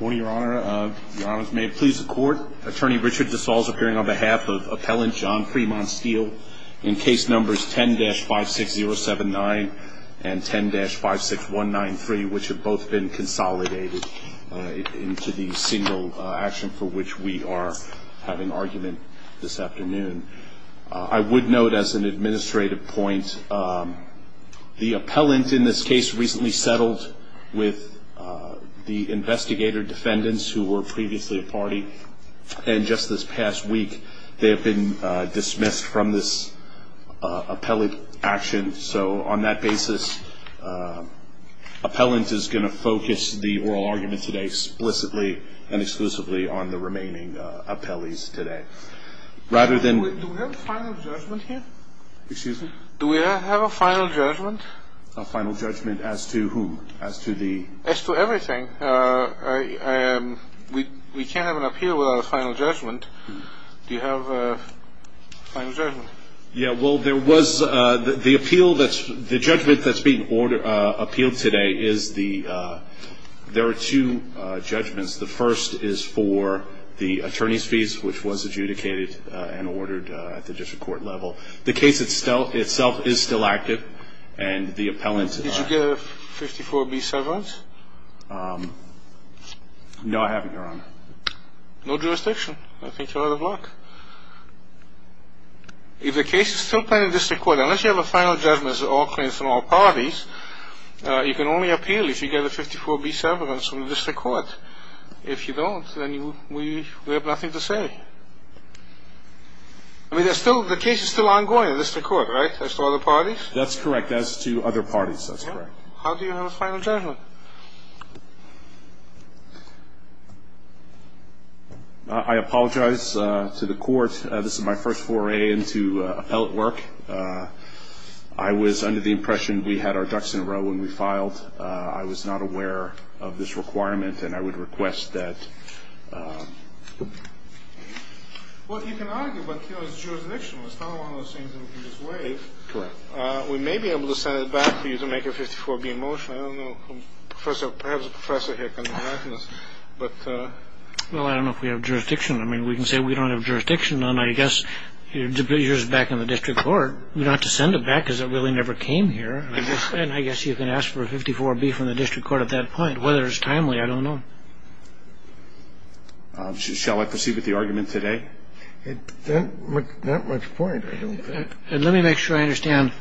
Attorney Richard DeSalle is appearing on behalf of Appellant John Fremont Steel in case numbers 10-56079 and 10-56193, which have both been consolidated into the single action for which we are having argument this afternoon. I would note as an administrative point, the appellant in this case recently settled with the investigator defendants who were previously a party and just this past week they have been dismissed from this appellate action. So on that basis, appellant is going to focus the oral argument today explicitly and exclusively on the remaining appellees today. Do we have a final judgment here? Excuse me? Do we have a final judgment? A final judgment as to whom? As to everything. We can't have an appeal without a final judgment. Do you have a final judgment? The judgment that is being appealed today, there are two judgments. The first is for the attorney's fees, which was adjudicated and ordered at the district court level. The case itself is still active and the appellant... Did you get a 54B severance? No, I haven't, your honor. No jurisdiction. I think you're out of luck. If the case is still pending at the district court, unless you have a final judgment that's all claims from all parties, you can only appeal if you get a 54B severance from the district court. If you don't, then we have nothing to say. I mean, the case is still ongoing at the district court, right? As to other parties? That's correct. As to other parties, that's correct. How do you have a final judgment? I apologize to the court. This is my first foray into appellate work. I was under the impression we had our ducks in a row when we filed. I was not aware of this requirement, and I would request that... Well, you can argue, but, you know, it's jurisdictional. It's not one of those things that we can just waive. Correct. We may be able to send it back to you to make a 54B motion. I don't know. Perhaps a professor here can enlighten us. Well, I don't know if we have jurisdiction. I mean, we can say we don't have jurisdiction, and I guess yours is back in the district court. We'd have to send it back because it really never came here. And I guess you can ask for a 54B from the district court at that point. Whether it's timely, I don't know. Shall I proceed with the argument today? Not much point, I don't think. Let me make sure I understand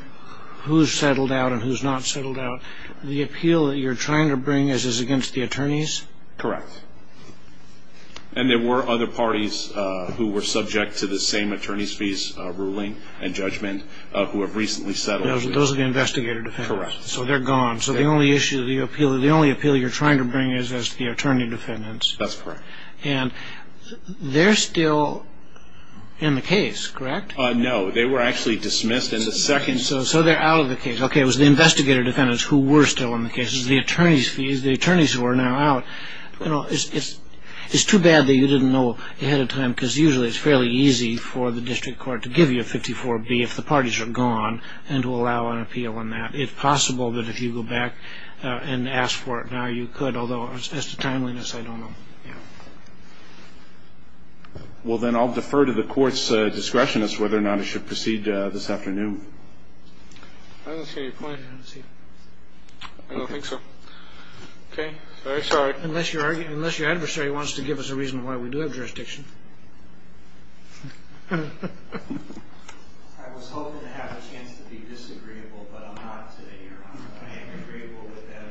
who's settled out and who's not settled out. The appeal that you're trying to bring is against the attorneys? Correct. And there were other parties who were subject to the same attorney's fees ruling and judgment who have recently settled. Those are the investigative defendants. Correct. So they're gone. So the only issue, the only appeal you're trying to bring is the attorney defendants. That's correct. And they're still in the case, correct? No, they were actually dismissed in the second. So they're out of the case. Okay, it was the investigative defendants who were still in the case. It was the attorneys' fees. The attorneys were now out. It's too bad that you didn't know ahead of time because usually it's fairly easy for the district court to give you a 54B if the parties are gone and to allow an appeal on that. It's possible that if you go back and ask for it now, you could, although as to timeliness, I don't know. Well, then I'll defer to the court's discretion as to whether or not it should proceed this afternoon. I don't see any point in it. I don't think so. Okay. Very sorry. Unless your adversary wants to give us a reason why we do have jurisdiction. I was hoping to have a chance to be disagreeable, but I'm not today, Your Honor. I am agreeable with that.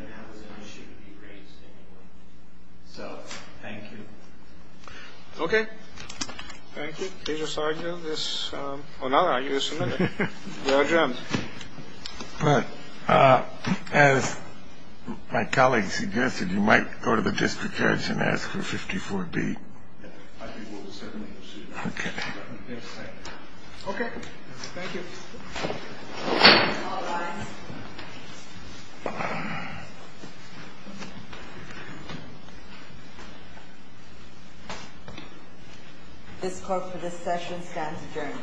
So thank you. Okay. Thank you. As my colleague suggested, you might go to the district judge and ask for 54B. Okay. Thank you. All rise. This court for this session stands adjourned.